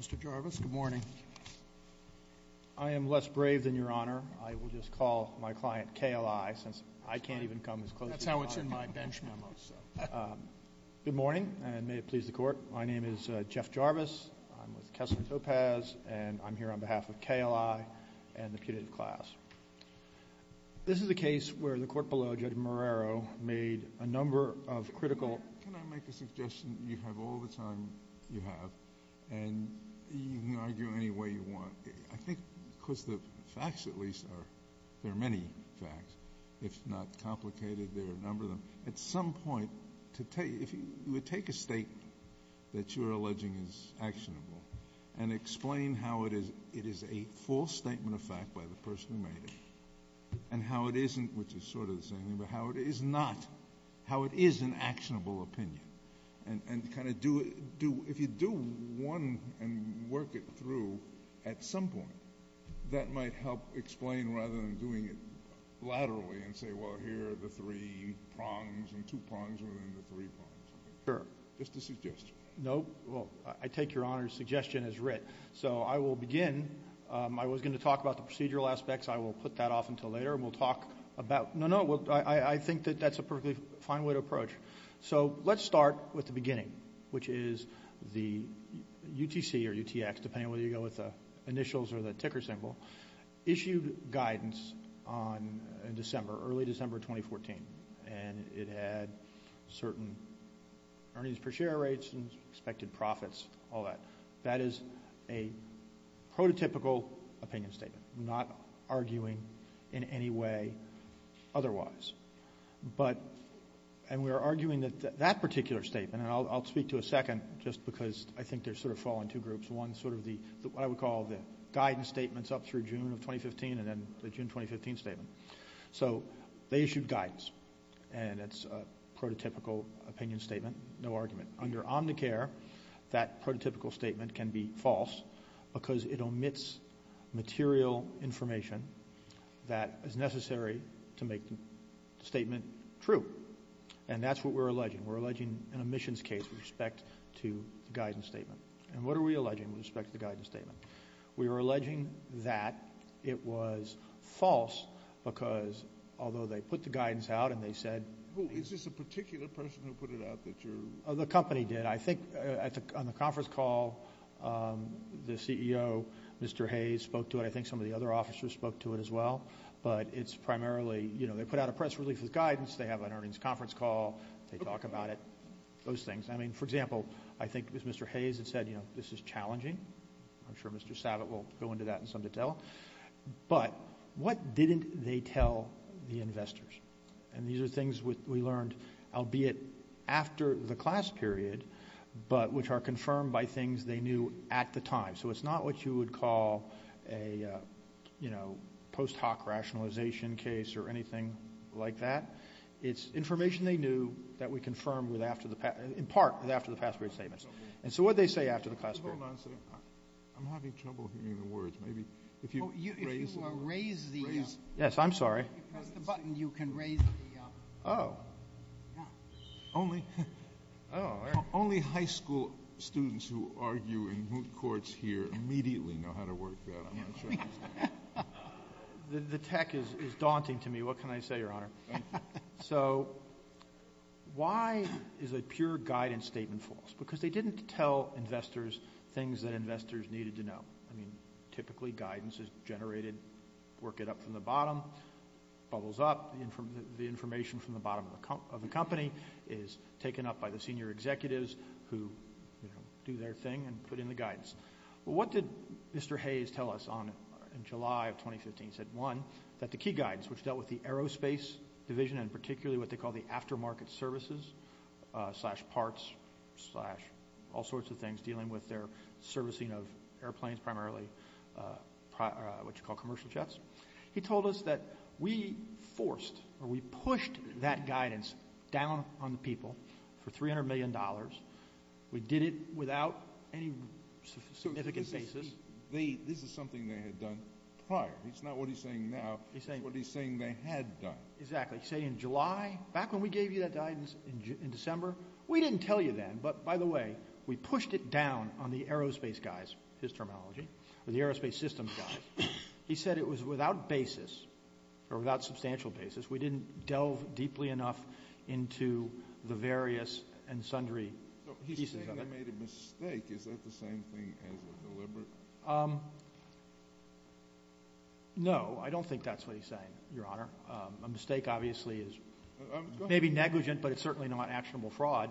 Mr. Jarvis, good morning. I am less brave than Your Honor. I will just call my client KLI since I can't even come as close to you as I can. That's how it's in my bench memos. Good morning, and may it please the Court. My name is Jeff Jarvis. I'm with Kessler Topaz, and I'm here on behalf of KLI and the putative class. This is a case where the court below, Judge Marrero, made a number of critical... I think because the facts at least are... there are many facts, if not complicated, there are a number of them. At some point, to take... if you would take a statement that you're alleging is actionable and explain how it is a false statement of fact by the person who made it, and how it isn't... which is sort of the same thing, but how it is not... how it is an actionable opinion, and kind of do... if you do one and work it through, at some point, that might help explain rather than doing it laterally and say, well, here are the three prongs and two prongs within the three prongs. Sure. Just a suggestion. No. Well, I take Your Honor's suggestion as writ. So I will begin... I was going to talk about the procedural aspects. I will put that off until later, and we'll talk about... no, no, I think that that's a perfectly fine way to approach. So, let's start with the beginning, which is the UTC, or UTX, depending on whether you go with the initials or the ticker symbol, issued guidance in December, early December 2014, and it had certain earnings per share rates and expected profits, all that. That is a prototypical opinion statement. Not arguing in any way otherwise. But... and we're arguing that that particular statement, and I'll speak to a second just because I think there's sort of a fall in two groups, one sort of the... what I would call the guidance statements up through June of 2015 and then the June 2015 statement. So they issued guidance, and it's a prototypical opinion statement, no argument. Under Omnicare, that prototypical statement can be false because it omits material information that is necessary to make the statement true. And that's what we're alleging. We're alleging an omissions case with respect to the guidance statement. And what are we alleging with respect to the guidance statement? We are alleging that it was false because although they put the guidance out and they said... Who? Is this a particular person who put it out that you're... The company did. I think on the conference call, the CEO, Mr. Hayes, spoke to it. I think some of the other officers spoke to it as well. But it's primarily, you know, they put out a press release with guidance, they have an earnings conference call, they talk about it, those things. I mean, for example, I think it was Mr. Hayes that said, you know, this is challenging. I'm sure Mr. Savitt will go into that in some detail. But what didn't they tell the investors? And these are things we learned, albeit after the class period, but which are confirmed by things they knew at the time. So it's not what you would call a, you know, post hoc rationalization case or anything like that. It's information they knew that we confirmed with after the... in part with after the past period statements. And so what did they say after the class period? Hold on a second. I'm having trouble hearing the words. Maybe if you raise... If you raise the... Raise... Yes, I'm sorry. If you press the button, you can raise the... Oh. Yeah. Only... Oh. Only high school students who argue in moot courts here immediately know how to work that. The tech is daunting to me. What can I say, Your Honor? So why is a pure guidance statement false? Because they didn't tell investors things that investors needed to know. I mean, typically guidance is generated, work it up from the bottom, bubbles up, the information from the bottom of the company is taken up by the senior executives who do their thing and put in the guidance. What did Mr. Hayes tell us in July of 2015? He said, one, that the key guides, which dealt with the aerospace division and particularly what they call the aftermarket services, slash parts, slash all sorts of things dealing with their servicing of airplanes primarily, what you call commercial jets. He told us that we forced or we pushed that guidance down on the people for $300 million. We did it without any significant basis. This is something they had done prior. It's not what he's saying now. He's saying... What he's saying they had done. Exactly. He's saying in July, back when we gave you that guidance in December, we didn't tell you then. But by the way, we pushed it down on the aerospace guys, his terminology, or the aerospace systems guys. He said it was without basis or without substantial basis. We didn't delve deeply enough into the various and sundry pieces of it. He's saying they made a mistake. Is that the same thing as a deliberate... No, I don't think that's what he's saying, Your Honor. A mistake, obviously, is maybe negligent, but it's certainly not actionable fraud.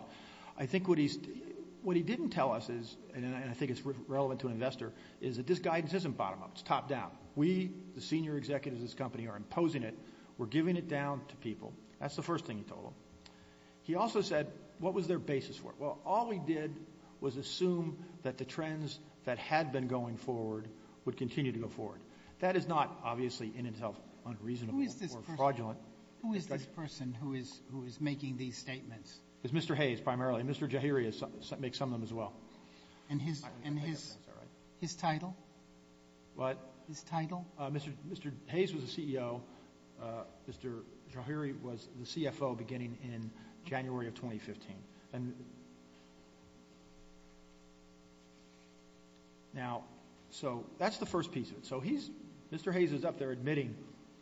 I think what he didn't tell us is, and I think it's relevant to an investor, is that this guidance isn't bottom-up. It's top-down. We, the senior executives of this company, are imposing it. We're giving it down to people. That's the first thing he told them. He also said, what was their basis for it? Well, all we did was assume that the trends that had been going forward would continue to go forward. That is not, obviously, in itself unreasonable or fraudulent... Who is this person who is making these statements? It's Mr. Hayes, primarily, and Mr. Jahiri makes some of them as well. His title? What? His title? Mr. Hayes was the CEO. Mr. Jahiri was the CFO beginning in January of 2015. So that's the first piece of it. Mr. Hayes is up there admitting.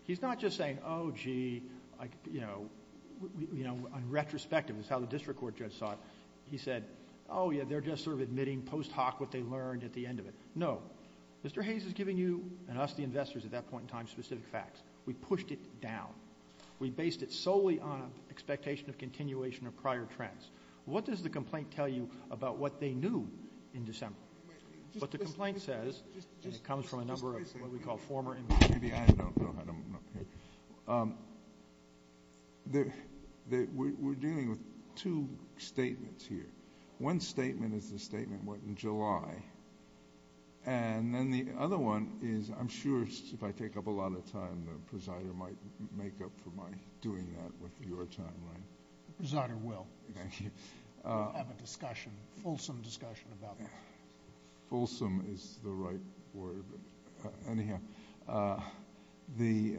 He's not just saying, oh, gee, on retrospective, as how the district court judge saw it, he said, oh, yeah, they're just sort of admitting post hoc what they learned at the end of it. No. Mr. Hayes is giving you, and us, the investors, at that point in time, specific facts. We pushed it down. We based it solely on an expectation of continuation of prior trends. What does the complaint tell you about what they knew in December? What the complaint says, and it comes from a number of what we call former... Maybe I don't know. I don't... We're dealing with two statements here. One statement is the statement, what in July, and then the other one is, I'm sure if I take up a lot of time, the presider might make up for my doing that with your time, right? The presider will. Thank you. We'll have a discussion, a fulsome discussion about that. Fulsome is the right word, but anyhow, the...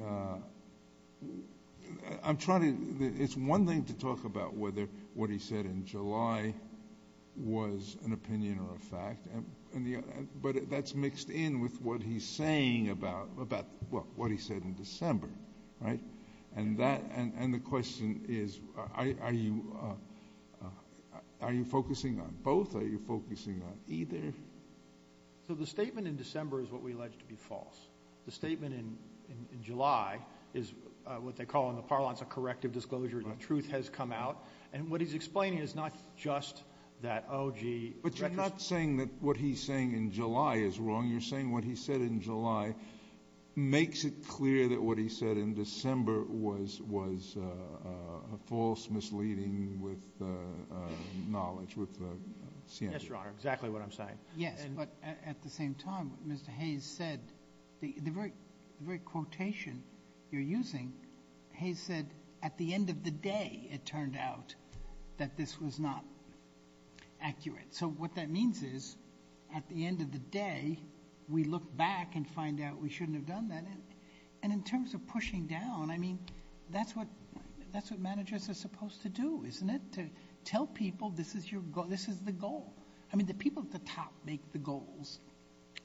I'm trying to... It's one thing to an opinion or a fact, but that's mixed in with what he's saying about, well, what he said in December, right? The question is, are you focusing on both or are you focusing on either? The statement in December is what we allege to be false. The statement in July is what they call in the parlance a corrective disclosure, the truth has come out. What he's explaining is not just that, oh, gee... But you're not saying that what he's saying in July is wrong. You're saying what he said in July makes it clear that what he said in December was a false misleading with knowledge, with... Yes, Your Honor, exactly what I'm saying. Yes, but at the same time, Mr. Hayes said, the very quotation you're using, Hayes said, at the end of the day, it turned out that this was not accurate. What that means is, at the end of the day, we look back and find out we shouldn't have done that. In terms of pushing down, I mean, that's what managers are supposed to do, isn't it? Tell people this is the goal. The people at the top make the goals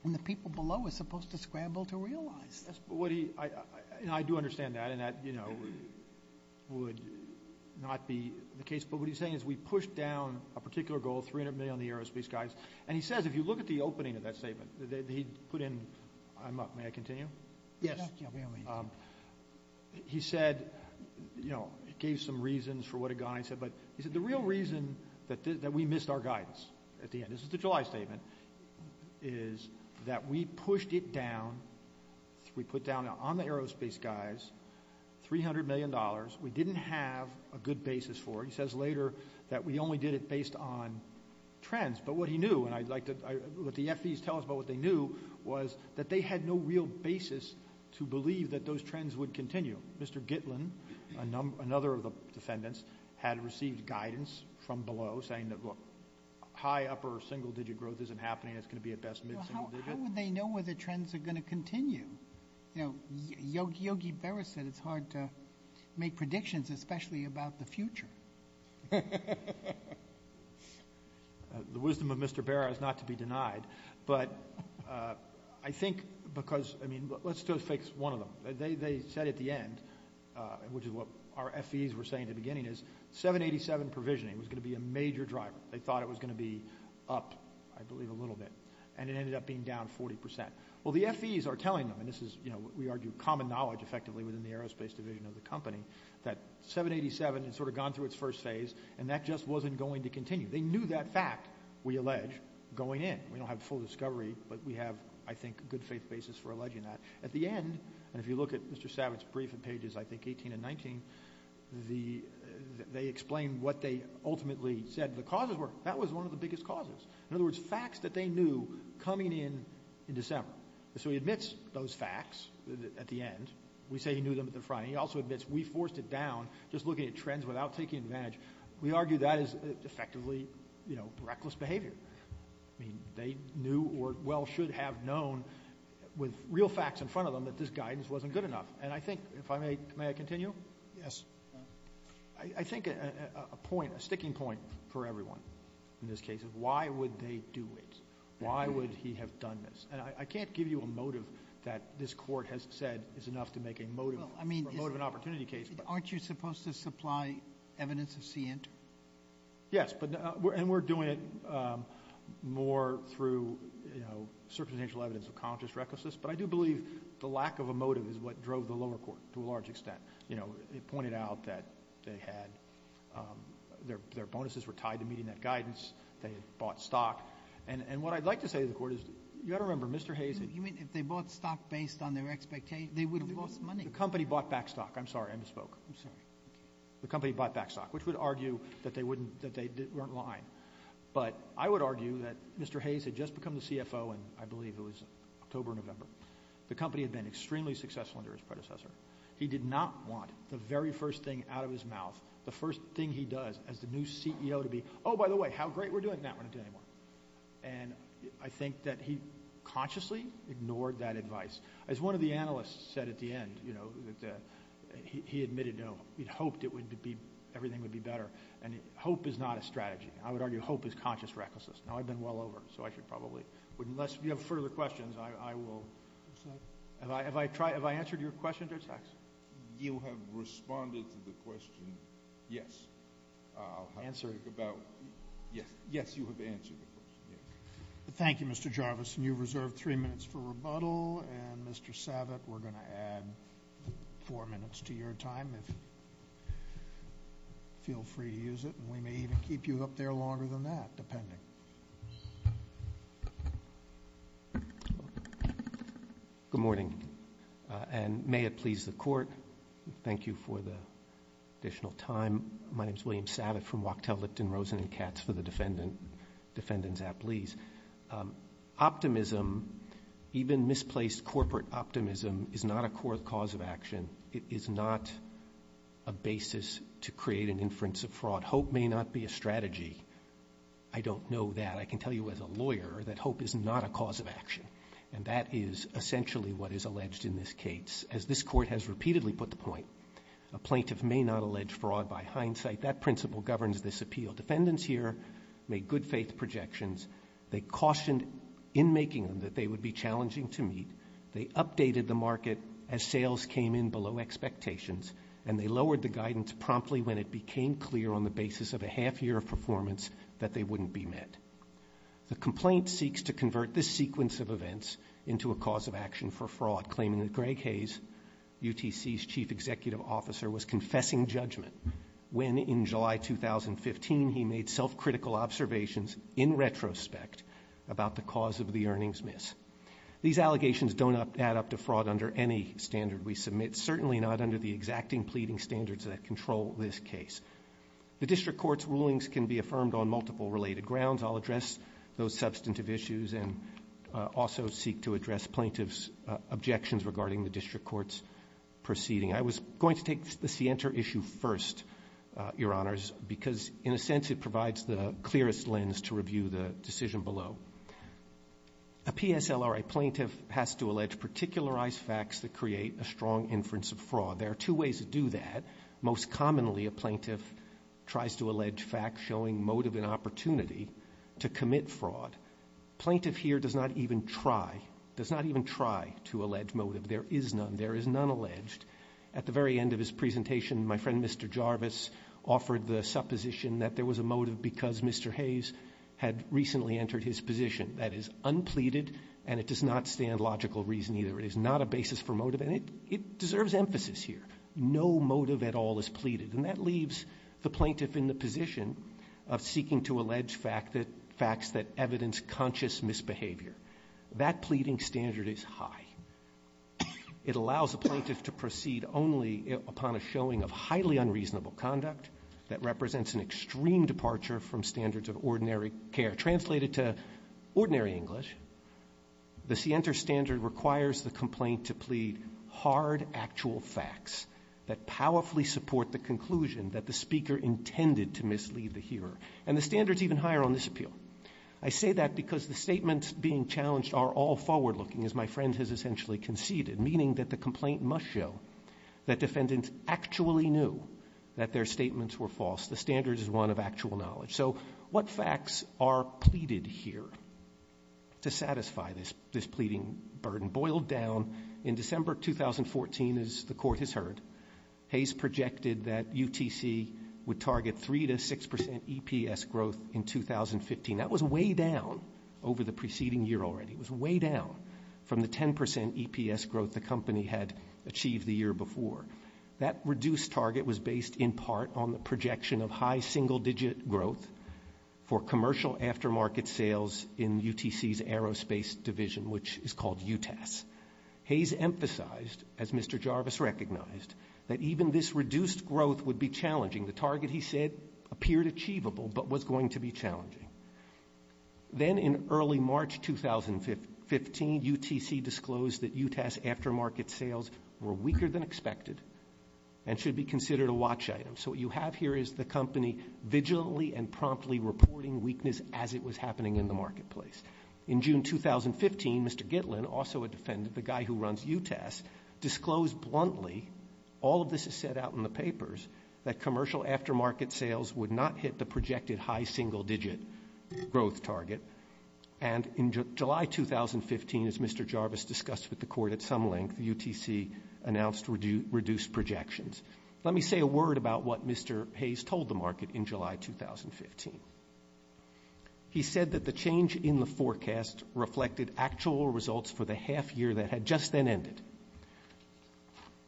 and the people below are supposed to scramble to realize this. I do understand that, and that would not be the case, but what he's saying is we pushed down a particular goal, 300 million on the aerospace guidance, and he says, if you look at the opening of that statement, he put in... May I continue? Yes. He said, you know, he gave some reasons for what he said, but he said the real reason that we missed our guidance at the end, this is the July statement, is that we pushed it down on the aerospace guys, $300 million. We didn't have a good basis for it. He says later that we only did it based on trends, but what he knew, and I'd like to let the FDs tell us about what they knew, was that they had no real basis to believe that those trends would continue. Mr. Gitlin, another of the defendants, had received guidance from below saying that, look, high upper single-digit growth isn't happening, it's going to be at best mid-single-digit. How would they know whether trends are going to continue? You know, Yogi Berra said it's hard to make predictions, especially about the future. The wisdom of Mr. Berra is not to be denied, but I think because, I mean, let's just fix one of them. They said at the end, which is what our FDs were saying at the beginning, is 787 provisioning was going to be a major driver. They thought it was going to be up, I believe, a little bit, and it ended up being down 40%. Well, the FDs are telling them, and this is, you know, we argue common knowledge effectively within the aerospace division of the company, that 787 had sort of gone through its first phase and that just wasn't going to continue. They knew that fact, we allege, going in. We don't have full discovery, but we have, I think, a good faith basis for alleging that. At the end, and if you look at Mr. Savage's brief in pages, I think, 18 and 19, they explain what they ultimately said the causes were. That was one of the biggest causes. In other words, facts that they knew coming in in December. So he admits those facts at the end. We say he knew them at the front, and he also admits we forced it down just looking at trends without taking advantage. We argue that is effectively, you know, reckless behavior. I mean, they knew or well should have known with real facts in front of them that this guidance wasn't good enough. And I think, if I may, may I continue? Yes. I think a point, a sticking point for everyone in this case is why would they do it? Why would he have done this? And I can't give you a motive that this court has said is enough to make a motive for an opportunity case. Aren't you supposed to supply evidence of scient? Yes, and we're doing it more through, you know, circumstantial evidence of conscious recklessness, but I do believe the lack of a motive is what drove the lower court to a large extent. You know, it pointed out that they had, their bonuses were tied to meeting that guidance. They had bought stock. And what I'd like to say to the court is, you've got to remember, Mr. Hayes had You mean, if they bought stock based on their expectations, they would have lost money. The company bought back stock. I'm sorry, I misspoke. I'm sorry. The company bought back stock, which would argue that they weren't lying. But I would argue that Mr. Hayes had just become the CFO in, I believe it was October or November. The company had been extremely successful under his predecessor. He did not want the very first thing out of his mouth, the first thing he does as the new CEO to be, oh, by the way, how great we're doing that, we're not doing it anymore. And I think that he consciously ignored that advice. As one of the analysts said at the end, you know, that he admitted, no, he'd hoped it would be, everything would be better. And hope is not a strategy. I would argue hope is conscious recklessness. Now, I've been well over, so I should probably, unless you have further questions, I will. Have I, have I tried, have I answered your question, Judge Hackson? You have responded to the question, yes. Answered. Yes, yes, you have answered the question, yes. Thank you, Mr. Jarvis. And you've reserved three minutes for rebuttal. And Mr. Savitt, we're going to add four minutes to your time if you feel free to use it. And we may even keep you up there longer than that, depending. Good morning. And may it please the Court, thank you for the additional time. My name is William Savitt from Wachtell, Lipton, Rosen, and Katz for the Defendant's App, please. Optimism, even misplaced corporate optimism, is not a core cause of action. It is not a basis to create an inference of fraud. Hope may not be a strategy. I don't know that. And that is essentially what is alleged in this case. As this Court has repeatedly put the point, a plaintiff may not allege fraud by hindsight. That principle governs this appeal. Defendants here made good-faith projections. They cautioned in making them that they would be challenging to meet. They updated the market as sales came in below expectations. And they lowered the guidance promptly when it became clear on the basis of a half year of performance that they wouldn't be met. The complaint seeks to convert this sequence of events into a cause of action for fraud, claiming that Greg Hayes, UTC's Chief Executive Officer, was confessing judgment when in July 2015 he made self-critical observations in retrospect about the cause of the earnings miss. These allegations don't add up to fraud under any standard we submit, certainly not under the exacting pleading standards that control this case. The District Court's rulings can be affirmed on multiple related grounds. I'll address those substantive issues and also seek to address plaintiffs' objections regarding the District Court's proceeding. I was going to take the scienter issue first, Your Honors, because in a sense it provides the clearest lens to review the decision below. A PSLRA plaintiff has to allege particularized facts that create a strong inference of fraud. There are two ways to do that. Most commonly, a plaintiff tries to allege facts showing motive and opportunity to commit fraud. Plaintiff here does not even try to allege motive. There is none. There is none alleged. At the very end of his presentation, my friend Mr. Jarvis offered the supposition that there was a motive because Mr. Hayes had recently entered his position. That is unpleaded, and it does not stand logical reason either. It is not a basis for motive, and it deserves emphasis here. No motive at all is pleaded, and that leaves the plaintiff in the position of seeking to allege facts that evidence conscious misbehavior. That pleading standard is high. It allows a plaintiff to proceed only upon a showing of highly unreasonable conduct that represents an extreme departure from standards of ordinary care. Translated to ordinary English, the Sienter standard requires the complaint to plead hard actual facts that powerfully support the conclusion that the speaker intended to mislead the hearer. And the standard is even higher on this appeal. I say that because the statements being challenged are all forward-looking, as my friend has essentially conceded, meaning that the complaint must show that defendants actually knew that their statements were false. The standard is one of actual knowledge. So what facts are pleaded here to satisfy this pleading burden? Boiled down in December 2014, as the Court has heard, Hayes projected that UTC would target 3 to 6% EPS growth in 2015. That was way down over the preceding year already. It was way down from the 10% EPS growth the company had achieved the year before. That reduced target was based in part on the projection of high single-digit growth for commercial aftermarket sales in UTC's aerospace division, which is called UTAS. Hayes emphasized, as Mr. Jarvis recognized, that even this reduced growth would be challenging. The target, he said, appeared achievable but was going to be challenging. Then in early March 2015, UTC disclosed that UTAS aftermarket sales were weaker than expected and should be considered a watch item. So what you have here is the company vigilantly and promptly reporting weakness as it was happening in the marketplace. In June 2015, Mr. Gitlin, also a defendant, the guy who runs UTAS, disclosed bluntly, all of this is set out in the papers, that commercial aftermarket sales would not hit the projected high single-digit growth target. And in July 2015, as Mr. Jarvis discussed with the court at some length, UTC announced reduced projections. Let me say a word about what Mr. Hayes told the market in July 2015. He said that the change in the forecast reflected actual results for the half year that had just then ended.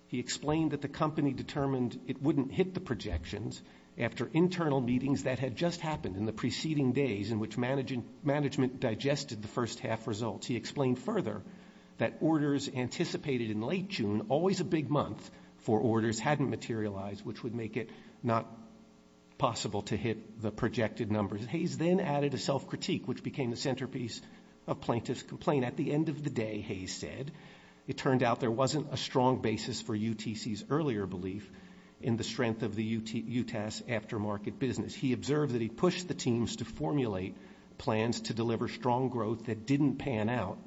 He explained that the company determined it wouldn't hit the projections after internal meetings that had just happened in the preceding days in which management digested the first half results. He explained further that orders anticipated in late June, always a big month for orders, hadn't materialized, which would make it not possible to hit the projected numbers. Hayes then added a self-critique, which became the centerpiece of plaintiff's complaint. And at the end of the day, Hayes said, it turned out there wasn't a strong basis for UTC's earlier belief in the strength of the UTAS aftermarket business. He observed that he pushed the teams to formulate plans to deliver strong growth that didn't pan out,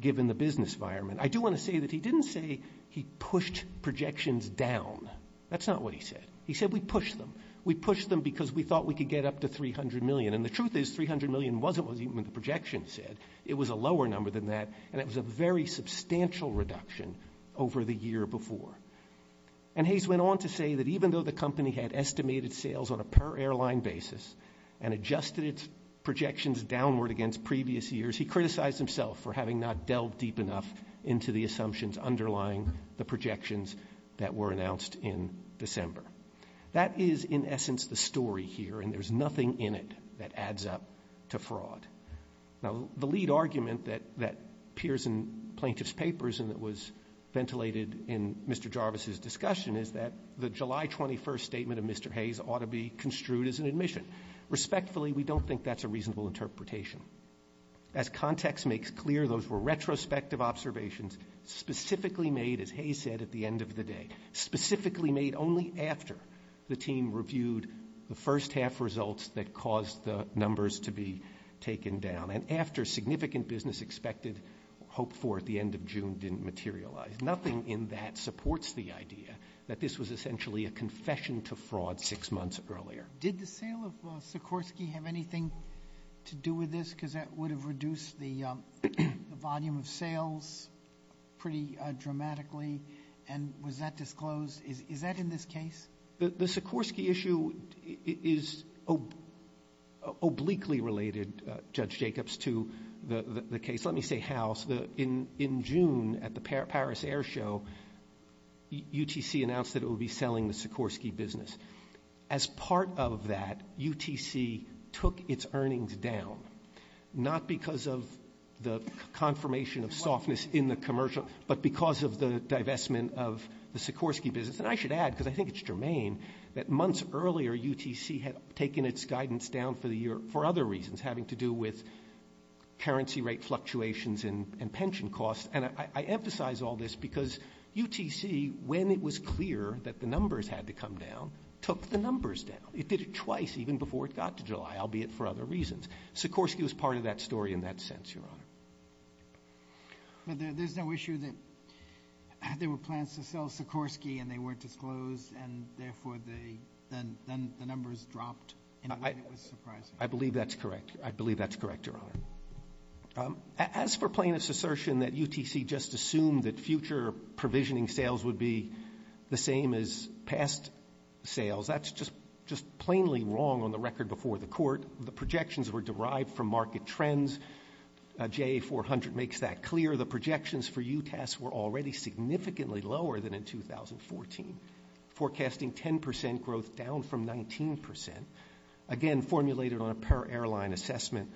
given the business environment. I do want to say that he didn't say he pushed projections down. That's not what he said. He said, we pushed them. We pushed them because we thought we could get up to 300 million. And the truth is, 300 million wasn't what the projections said. It was a lower number than that, and it was a very substantial reduction over the year before. And Hayes went on to say that even though the company had estimated sales on a per-airline basis and adjusted its projections downward against previous years, he criticized himself for having not delved deep enough into the assumptions underlying the projections that were announced in December. That is, in essence, the story here, and there's nothing in it that adds up to fraud. Now, the lead argument that appears in plaintiff's papers and that was ventilated in Mr. Jarvis's discussion is that the July 21 statement of Mr. Hayes ought to be construed as an admission. Respectfully, we don't think that's a reasonable interpretation. As context makes clear, those were retrospective observations specifically made, as Hayes said, at the end of the day, specifically made only after the team reviewed the first-half results that caused the numbers to be taken down and after significant business expected hoped for at the end of June didn't materialize. Nothing in that supports the idea that this was essentially a confession to fraud six months earlier. Did the sale of Sikorsky have anything to do with this because that would have reduced the volume of sales pretty dramatically, and was that disclosed? Is that in this case? The Sikorsky issue is obliquely related, Judge Jacobs, to the case. Let me say how. In June at the Paris Air Show, UTC announced that it would be selling the Sikorsky business. As part of that, UTC took its earnings down, not because of the confirmation of softness in the commercial but because of the divestment of the Sikorsky business. And I should add, because I think it's germane, that months earlier UTC had taken its guidance down for other reasons, having to do with currency rate fluctuations and pension costs. And I emphasize all this because UTC, when it was clear that the numbers had to come down, took the numbers down. It did it twice even before it got to July, albeit for other reasons. Sikorsky was part of that story in that sense, Your Honor. But there's no issue that there were plans to sell Sikorsky and they weren't disclosed and therefore then the numbers dropped in a way that was surprising? I believe that's correct. I believe that's correct, Your Honor. As for plaintiff's assertion that UTC just assumed that future provisioning sales would be the same as past sales, that's just plainly wrong on the record before the court. The projections were derived from market trends. JA400 makes that clear. The projections for UTC were already significantly lower than in 2014, forecasting 10 percent growth down from 19 percent. Again, formulated on a per airline assessment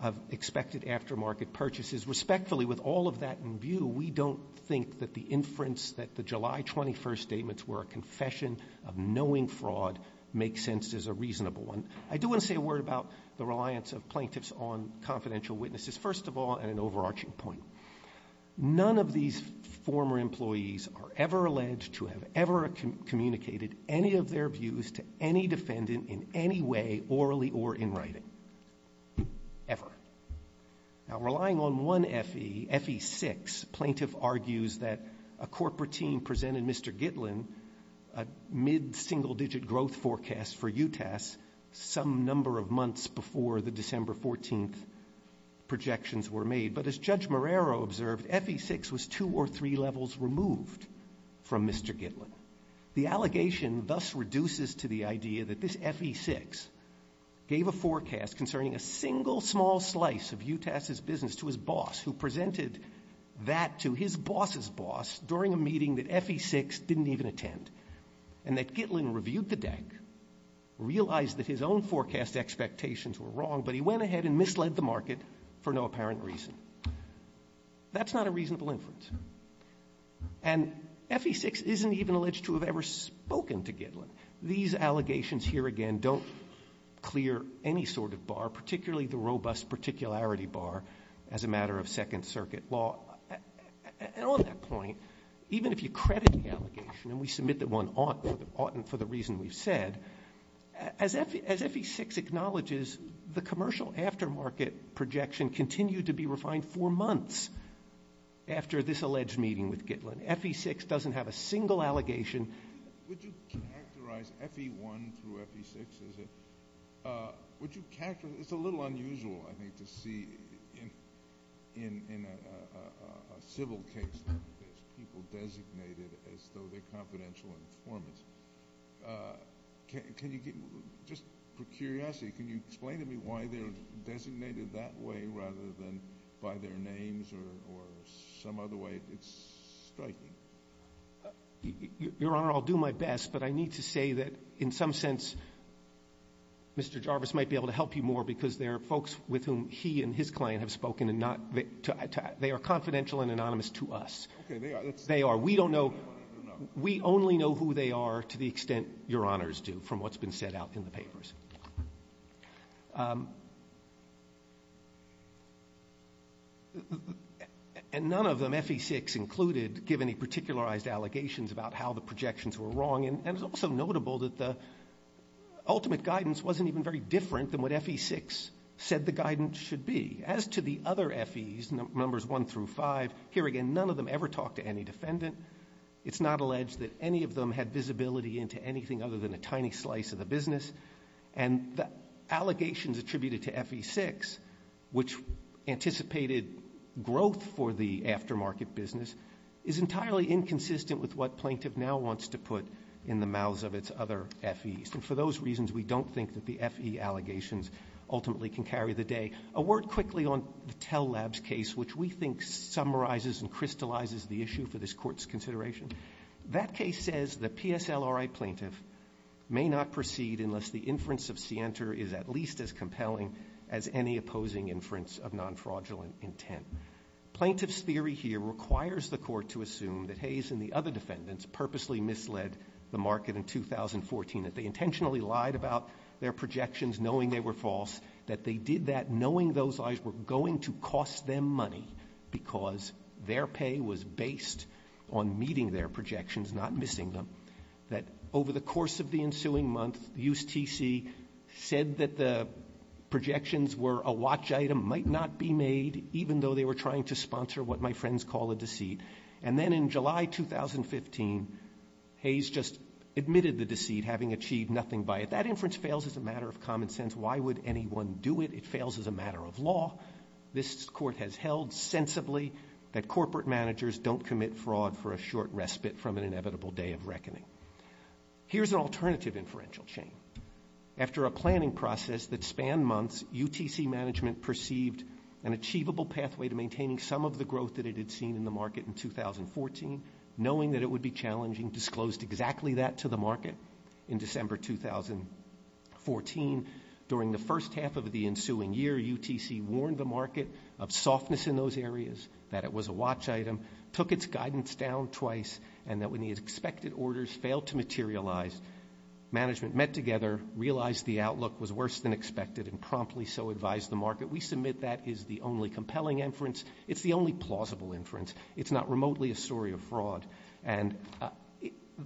of expected aftermarket purchases. Respectfully, with all of that in view, we don't think that the inference that the July 21st statements were a confession of knowing fraud makes sense as a reasonable one. I do want to say a word about the reliance of plaintiffs on confidential witnesses, first of all, and an overarching point. None of these former employees are ever alleged to have ever communicated any of their views to any defendant in any way, orally or in writing. Ever. Now, relying on one FE, FE6, plaintiff argues that a corporate team presented Mr. Gitlin a mid-single-digit growth forecast for UTAS some number of months before the December 14th projections were made. But as Judge Marrero observed, FE6 was two or three levels removed from Mr. Gitlin. The allegation thus reduces to the idea that this FE6 gave a forecast concerning a single small slice of UTAS's business to his boss, who presented that to his boss's boss during a meeting that FE6 didn't even attend, and that Gitlin reviewed the deck, realized that his own forecast expectations were wrong, but he went ahead and misled the market for no apparent reason. That's not a reasonable inference. And FE6 isn't even alleged to have ever spoken to Gitlin. These allegations here, again, don't clear any sort of bar, particularly the robust particularity bar as a matter of Second Circuit law. And on that point, even if you credit the allegation and we submit that one ought and for the reason we've said, as FE6 acknowledges, the commercial aftermarket projection continued to be refined for months after this alleged meeting with Gitlin. FE6 doesn't have a single allegation. Would you characterize FE1 through FE6 as a – would you characterize – it's a little unusual, I think, to see in a civil case like this people designated as though they're confidential informants. Can you – just for curiosity, can you explain to me why they're designated that way rather than by their names or some other way? It's striking. Your Honor, I'll do my best, but I need to say that in some sense Mr. Jarvis might be able to help you more because there are folks with whom he and his client have spoken and not – they are confidential and anonymous to us. Okay, they are. They are. We don't know – we only know who they are to the extent Your Honors do from what's been said out in the papers. And none of them, FE6 included, give any particularized allegations about how the projections were wrong. And it's also notable that the ultimate guidance wasn't even very different than what FE6 said the guidance should be. As to the other FEs, numbers 1 through 5, here again, none of them ever talked to any defendant. It's not alleged that any of them had visibility into anything other than a tiny slice of the business. And the allegations attributed to FE6, which anticipated growth for the aftermarket business, is entirely inconsistent with what plaintiff now wants to put in the mouths of its other FEs. And for those reasons, we don't think that the FE allegations ultimately can carry the day. A word quickly on the Tell Labs case, which we think summarizes and crystallizes the issue for this Court's consideration. That case says the PSLRI plaintiff may not proceed unless the inference of scienter is at least as compelling as any opposing inference of non-fraudulent intent. Plaintiff's theory here requires the Court to assume that Hayes and the other defendants purposely misled the market in 2014, that they intentionally lied about their projections knowing they were false, that they did that knowing those lies were going to cost them money because their pay was based on meeting their projections, not missing them. That over the course of the ensuing month, USTC said that the projections were a watch item, might not be made even though they were trying to sponsor what my friends call a deceit. And then in July 2015, Hayes just admitted the deceit, having achieved nothing by it. If that inference fails as a matter of common sense, why would anyone do it? It fails as a matter of law. This Court has held sensibly that corporate managers don't commit fraud for a short respite from an inevitable day of reckoning. Here's an alternative inferential chain. After a planning process that spanned months, UTC management perceived an achievable pathway to maintaining some of the growth that it had seen in the market in 2014, knowing that it would be challenging, disclosed exactly that to the market in December 2014. During the first half of the ensuing year, UTC warned the market of softness in those areas, that it was a watch item, took its guidance down twice, and that when the expected orders failed to materialize, management met together, realized the outlook was worse than expected, and promptly so advised the market. We submit that is the only compelling inference. It's the only plausible inference. It's not remotely a story of fraud. And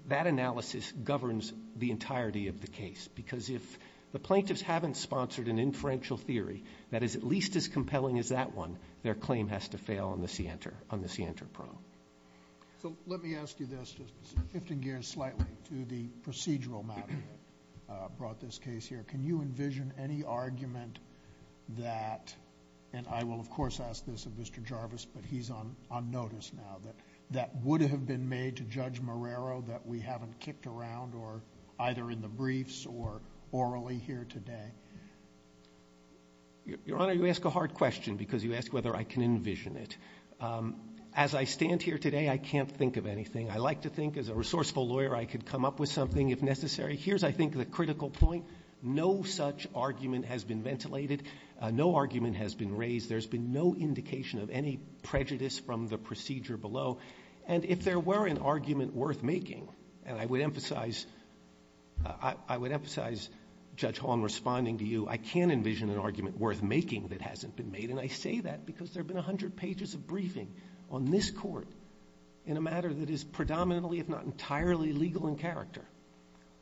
that analysis governs the entirety of the case, because if the plaintiffs haven't sponsored an inferential theory that is at least as compelling as that one, their claim has to fail on the scienter pro. So let me ask you this, just shifting gears slightly to the procedural matter that brought this case here. Can you envision any argument that, and I will, of course, ask this of Mr. Jarvis, but he's on notice now, that would have been made to Judge Marrero that we haven't kicked around, or either in the briefs or orally here today? Your Honor, you ask a hard question, because you ask whether I can envision it. As I stand here today, I can't think of anything. I like to think, as a resourceful lawyer, I could come up with something if necessary. Here's, I think, the critical point. No such argument has been ventilated. No argument has been raised. There's been no indication of any prejudice from the procedure below. And if there were an argument worth making, and I would emphasize Judge Hong responding to you, I can envision an argument worth making that hasn't been made, and I say that because there have been 100 pages of briefing on this court in a matter that is predominantly, if not entirely, legal in character.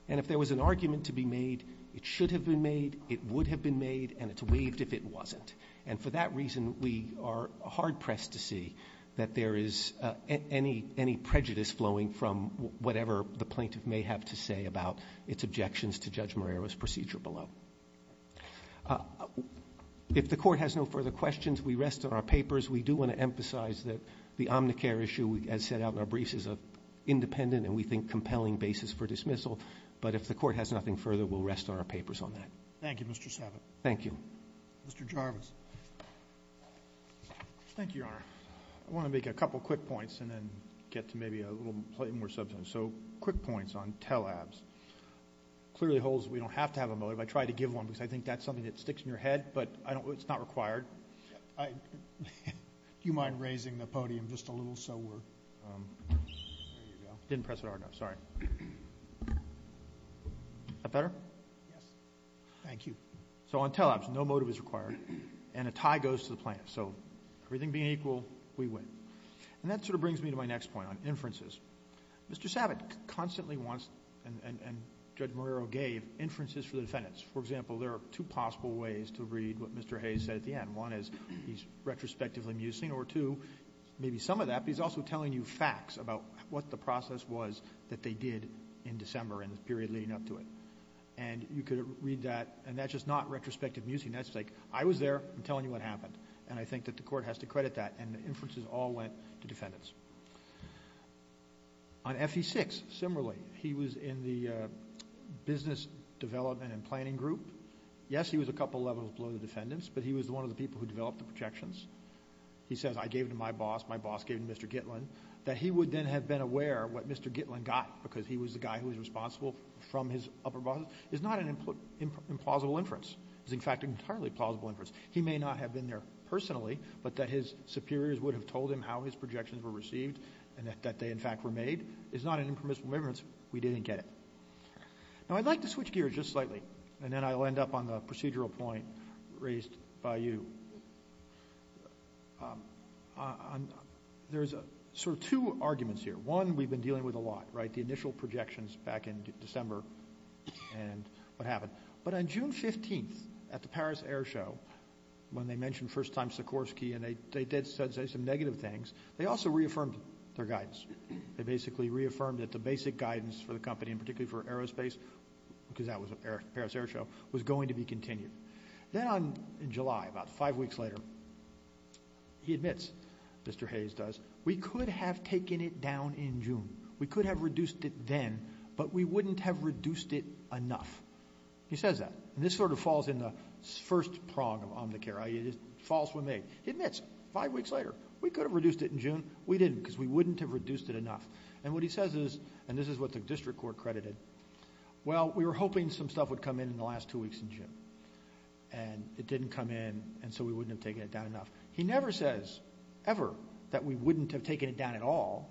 And if there was an argument to be made, it should have been made, it would have been made, and it's waived if it wasn't. And for that reason, we are hard-pressed to see that there is any prejudice flowing from whatever the plaintiff may have to say about its objections to Judge Marrero's procedure below. If the Court has no further questions, we rest on our papers. We do want to emphasize that the Omnicare issue, as set out in our briefs, is an independent and, we think, compelling basis for dismissal. But if the Court has nothing further, we'll rest on our papers on that. Thank you, Mr. Savitt. Thank you. Mr. Jarvis. Thank you, Your Honor. I want to make a couple quick points and then get to maybe a little more substance. So quick points on tel-abs. It clearly holds that we don't have to have a motive. I tried to give one because I think that's something that sticks in your head, but it's not required. Do you mind raising the podium just a little so we're... There you go. I didn't press it hard enough. Sorry. Is that better? Yes. Thank you. So on tel-abs, no motive is required, and a tie goes to the plaintiff. So everything being equal, we win. And that sort of brings me to my next point on inferences. Mr. Savitt constantly wants, and Judge Marrero gave, inferences for the defendants. For example, there are two possible ways to read what Mr. Hayes said at the end. One is he's retrospectively musing, or two, maybe some of that, but he's also telling you facts about what the process was that they did in December and the period leading up to it. And you could read that, and that's just not retrospective musing. That's like, I was there. I'm telling you what happened. And I think that the court has to credit that. And the inferences all went to defendants. On FE-6, similarly, he was in the business development and planning group. Yes, he was a couple levels below the defendants, but he was one of the people who developed the projections. He says, I gave it to my boss, my boss gave it to Mr. Gitlin, that he would then have been aware what Mr. Gitlin got, because he was the guy who was responsible from his upper bosses. It's not an implausible inference. It's, in fact, an entirely plausible inference. He may not have been there personally, but that his superiors would have told him how his projections were received and that they, in fact, were made is not an impermissible inference. We didn't get it. Now, I'd like to switch gears just slightly, and then I'll end up on the procedural point raised by you. There's sort of two arguments here. One, we've been dealing with a lot, right, the initial projections back in December and what happened. But on June 15th at the Paris Air Show, when they mentioned first time Sikorsky and they did say some negative things, they also reaffirmed their guidance. They basically reaffirmed that the basic guidance for the company, and particularly for aerospace, because that was the Paris Air Show, was going to be continued. Then in July, about five weeks later, he admits, Mr. Hayes does, we could have taken it down in June. We could have reduced it then, but we wouldn't have reduced it enough. He says that. And this sort of falls in the first prong of Omnicare, i.e., it is false when made. He admits, five weeks later, we could have reduced it in June. We didn't because we wouldn't have reduced it enough. And what he says is, and this is what the district court credited, well, we were hoping some stuff would come in in the last two weeks in June, and it didn't come in, and so we wouldn't have taken it down enough. He never says, ever, that we wouldn't have taken it down at all,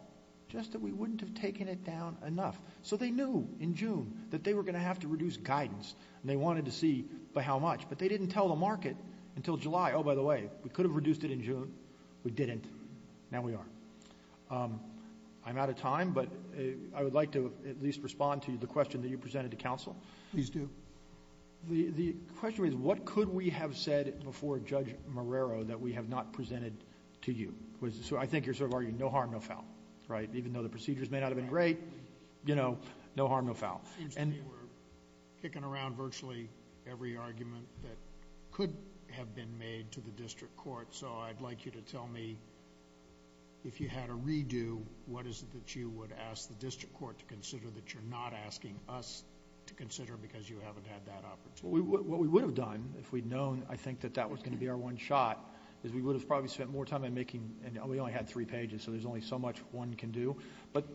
just that we wouldn't have taken it down enough. So they knew in June that they were going to have to reduce guidance, and they wanted to see by how much, but they didn't tell the market until July, oh, by the way, we could have reduced it in June. We didn't. Now we are. I'm out of time, but I would like to at least respond to the question that you presented to counsel. Please do. The question is, what could we have said before Judge Marrero that we have not presented to you? So I think you're sort of arguing no harm, no foul, right? Even though the procedures may not have been great, you know, no harm, no foul. It seems to me we're kicking around virtually every argument that could have been made to the district court, so I'd like you to tell me if you had a redo, what is it that you would ask the district court to consider that you're not asking us to consider because you haven't had that opportunity? What we would have done if we'd known, I think, that that was going to be our one shot is we would have probably spent more time in making... and we only had three pages, so there's only so much one can do. But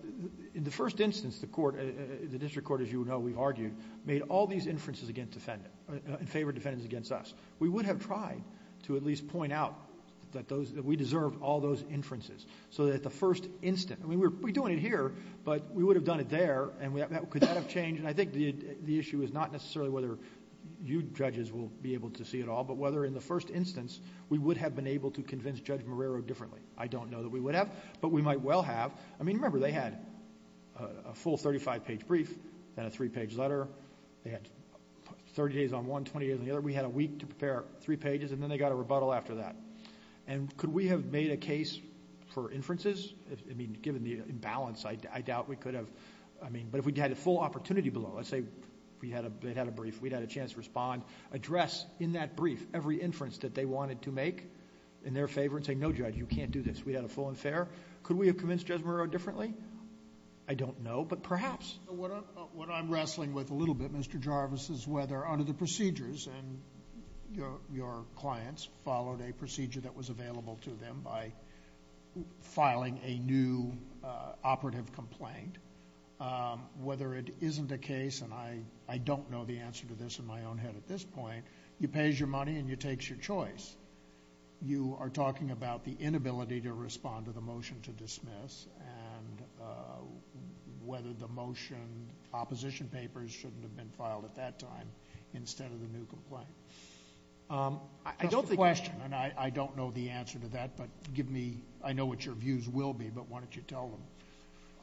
in the first instance, the district court, as you know, we've argued, made all these inferences in favor of defendants against us. We would have tried to at least point out that we deserved all those inferences so that at the first instant... I mean, we're doing it here, but we would have done it there, and could that have changed? And I think the issue is not necessarily whether you judges will be able to see it all, but whether in the first instance we would have been able to convince Judge Marrero differently. I don't know that we would have, but we might well have. I mean, remember, they had a full 35-page brief and a three-page letter. They had 30 days on one, 20 days on the other. We had a week to prepare three pages, and then they got a rebuttal after that. And could we have made a case for inferences? I mean, given the imbalance, I doubt we could have. But if we had a full opportunity below, let's say they had a brief, we'd had a chance to respond, address in that brief every inference that they wanted to make in their favor, and say, no, Judge, you can't do this. We had a full and fair. Could we have convinced Judge Marrero differently? I don't know, but perhaps. What I'm wrestling with a little bit, Mr. Jarvis, is whether under the procedures, and your clients followed a procedure that was available to them by filing a new operative complaint. Whether it isn't a case, and I don't know the answer to this in my own head at this point, you pay your money and it takes your choice. You are talking about the inability to respond to the motion to dismiss and whether the motion opposition papers shouldn't have been filed at that time instead of the new complaint. I don't think it's a question, and I don't know the answer to that, but give me, I know what your views will be, but why don't you tell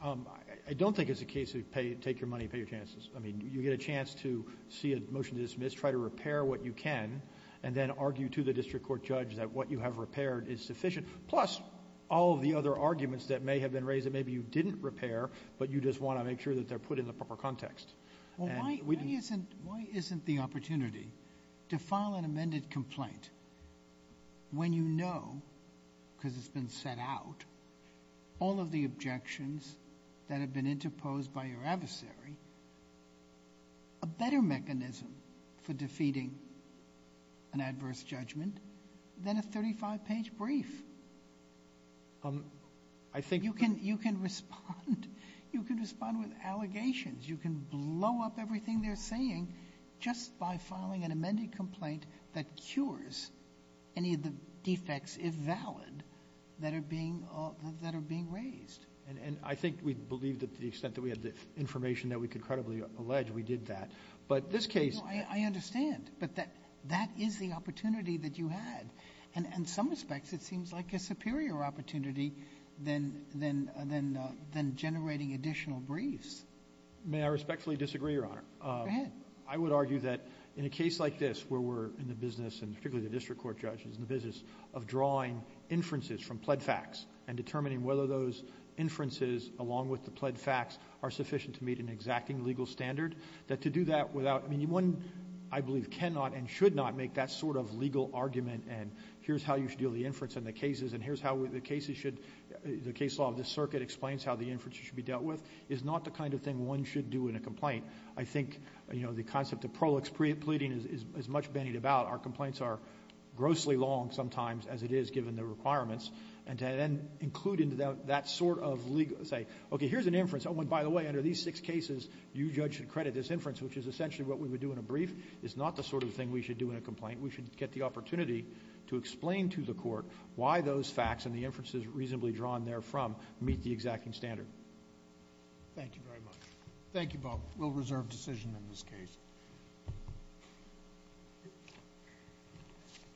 them. I don't think it's a case of take your money and pay your chances. I mean, you get a chance to see a motion to dismiss, try to repair what you can, and then argue to the district court judge that what you have repaired is sufficient. Plus, all of the other arguments that may have been raised that maybe you didn't repair, but you just want to make sure that they're put in the proper context. Why isn't the opportunity to file an amended complaint when you know, because it's been set out, all of the objections that have been interposed by your adversary, a better mechanism for defeating an adverse judgment than a 35-page brief? You can respond with allegations. You can blow up everything they're saying just by filing an amended complaint that cures any of the defects, if valid, that are being raised. And I think we believe that to the extent that we had the information that we could credibly allege, we did that. But this case— I understand, but that is the opportunity that you had. In some respects, it seems like a superior opportunity than generating additional briefs. May I respectfully disagree, Your Honor? Go ahead. I would argue that in a case like this where we're in the business, and particularly the district court judge is in the business, of drawing inferences from pled facts and determining whether those inferences, along with the pled facts, are sufficient to meet an exacting legal standard, that to do that without— I mean, one, I believe, cannot and should not make that sort of legal argument, and here's how you should deal with the inference in the cases, and here's how the case law of this circuit explains how the inference should be dealt with, is not the kind of thing one should do in a complaint. I think, you know, the concept of prolix pleading is much bandied about. Our complaints are grossly long sometimes, as it is given the requirements, and to then include into that sort of legal—say, okay, here's an inference. Oh, and by the way, under these six cases, you judge should credit this inference, which is essentially what we would do in a brief, is not the sort of thing we should do in a complaint. We should get the opportunity to explain to the court why those facts and the inferences reasonably drawn therefrom meet the exacting standard. Thank you very much. Thank you, Bob. We'll reserve decision in this case. Thank you.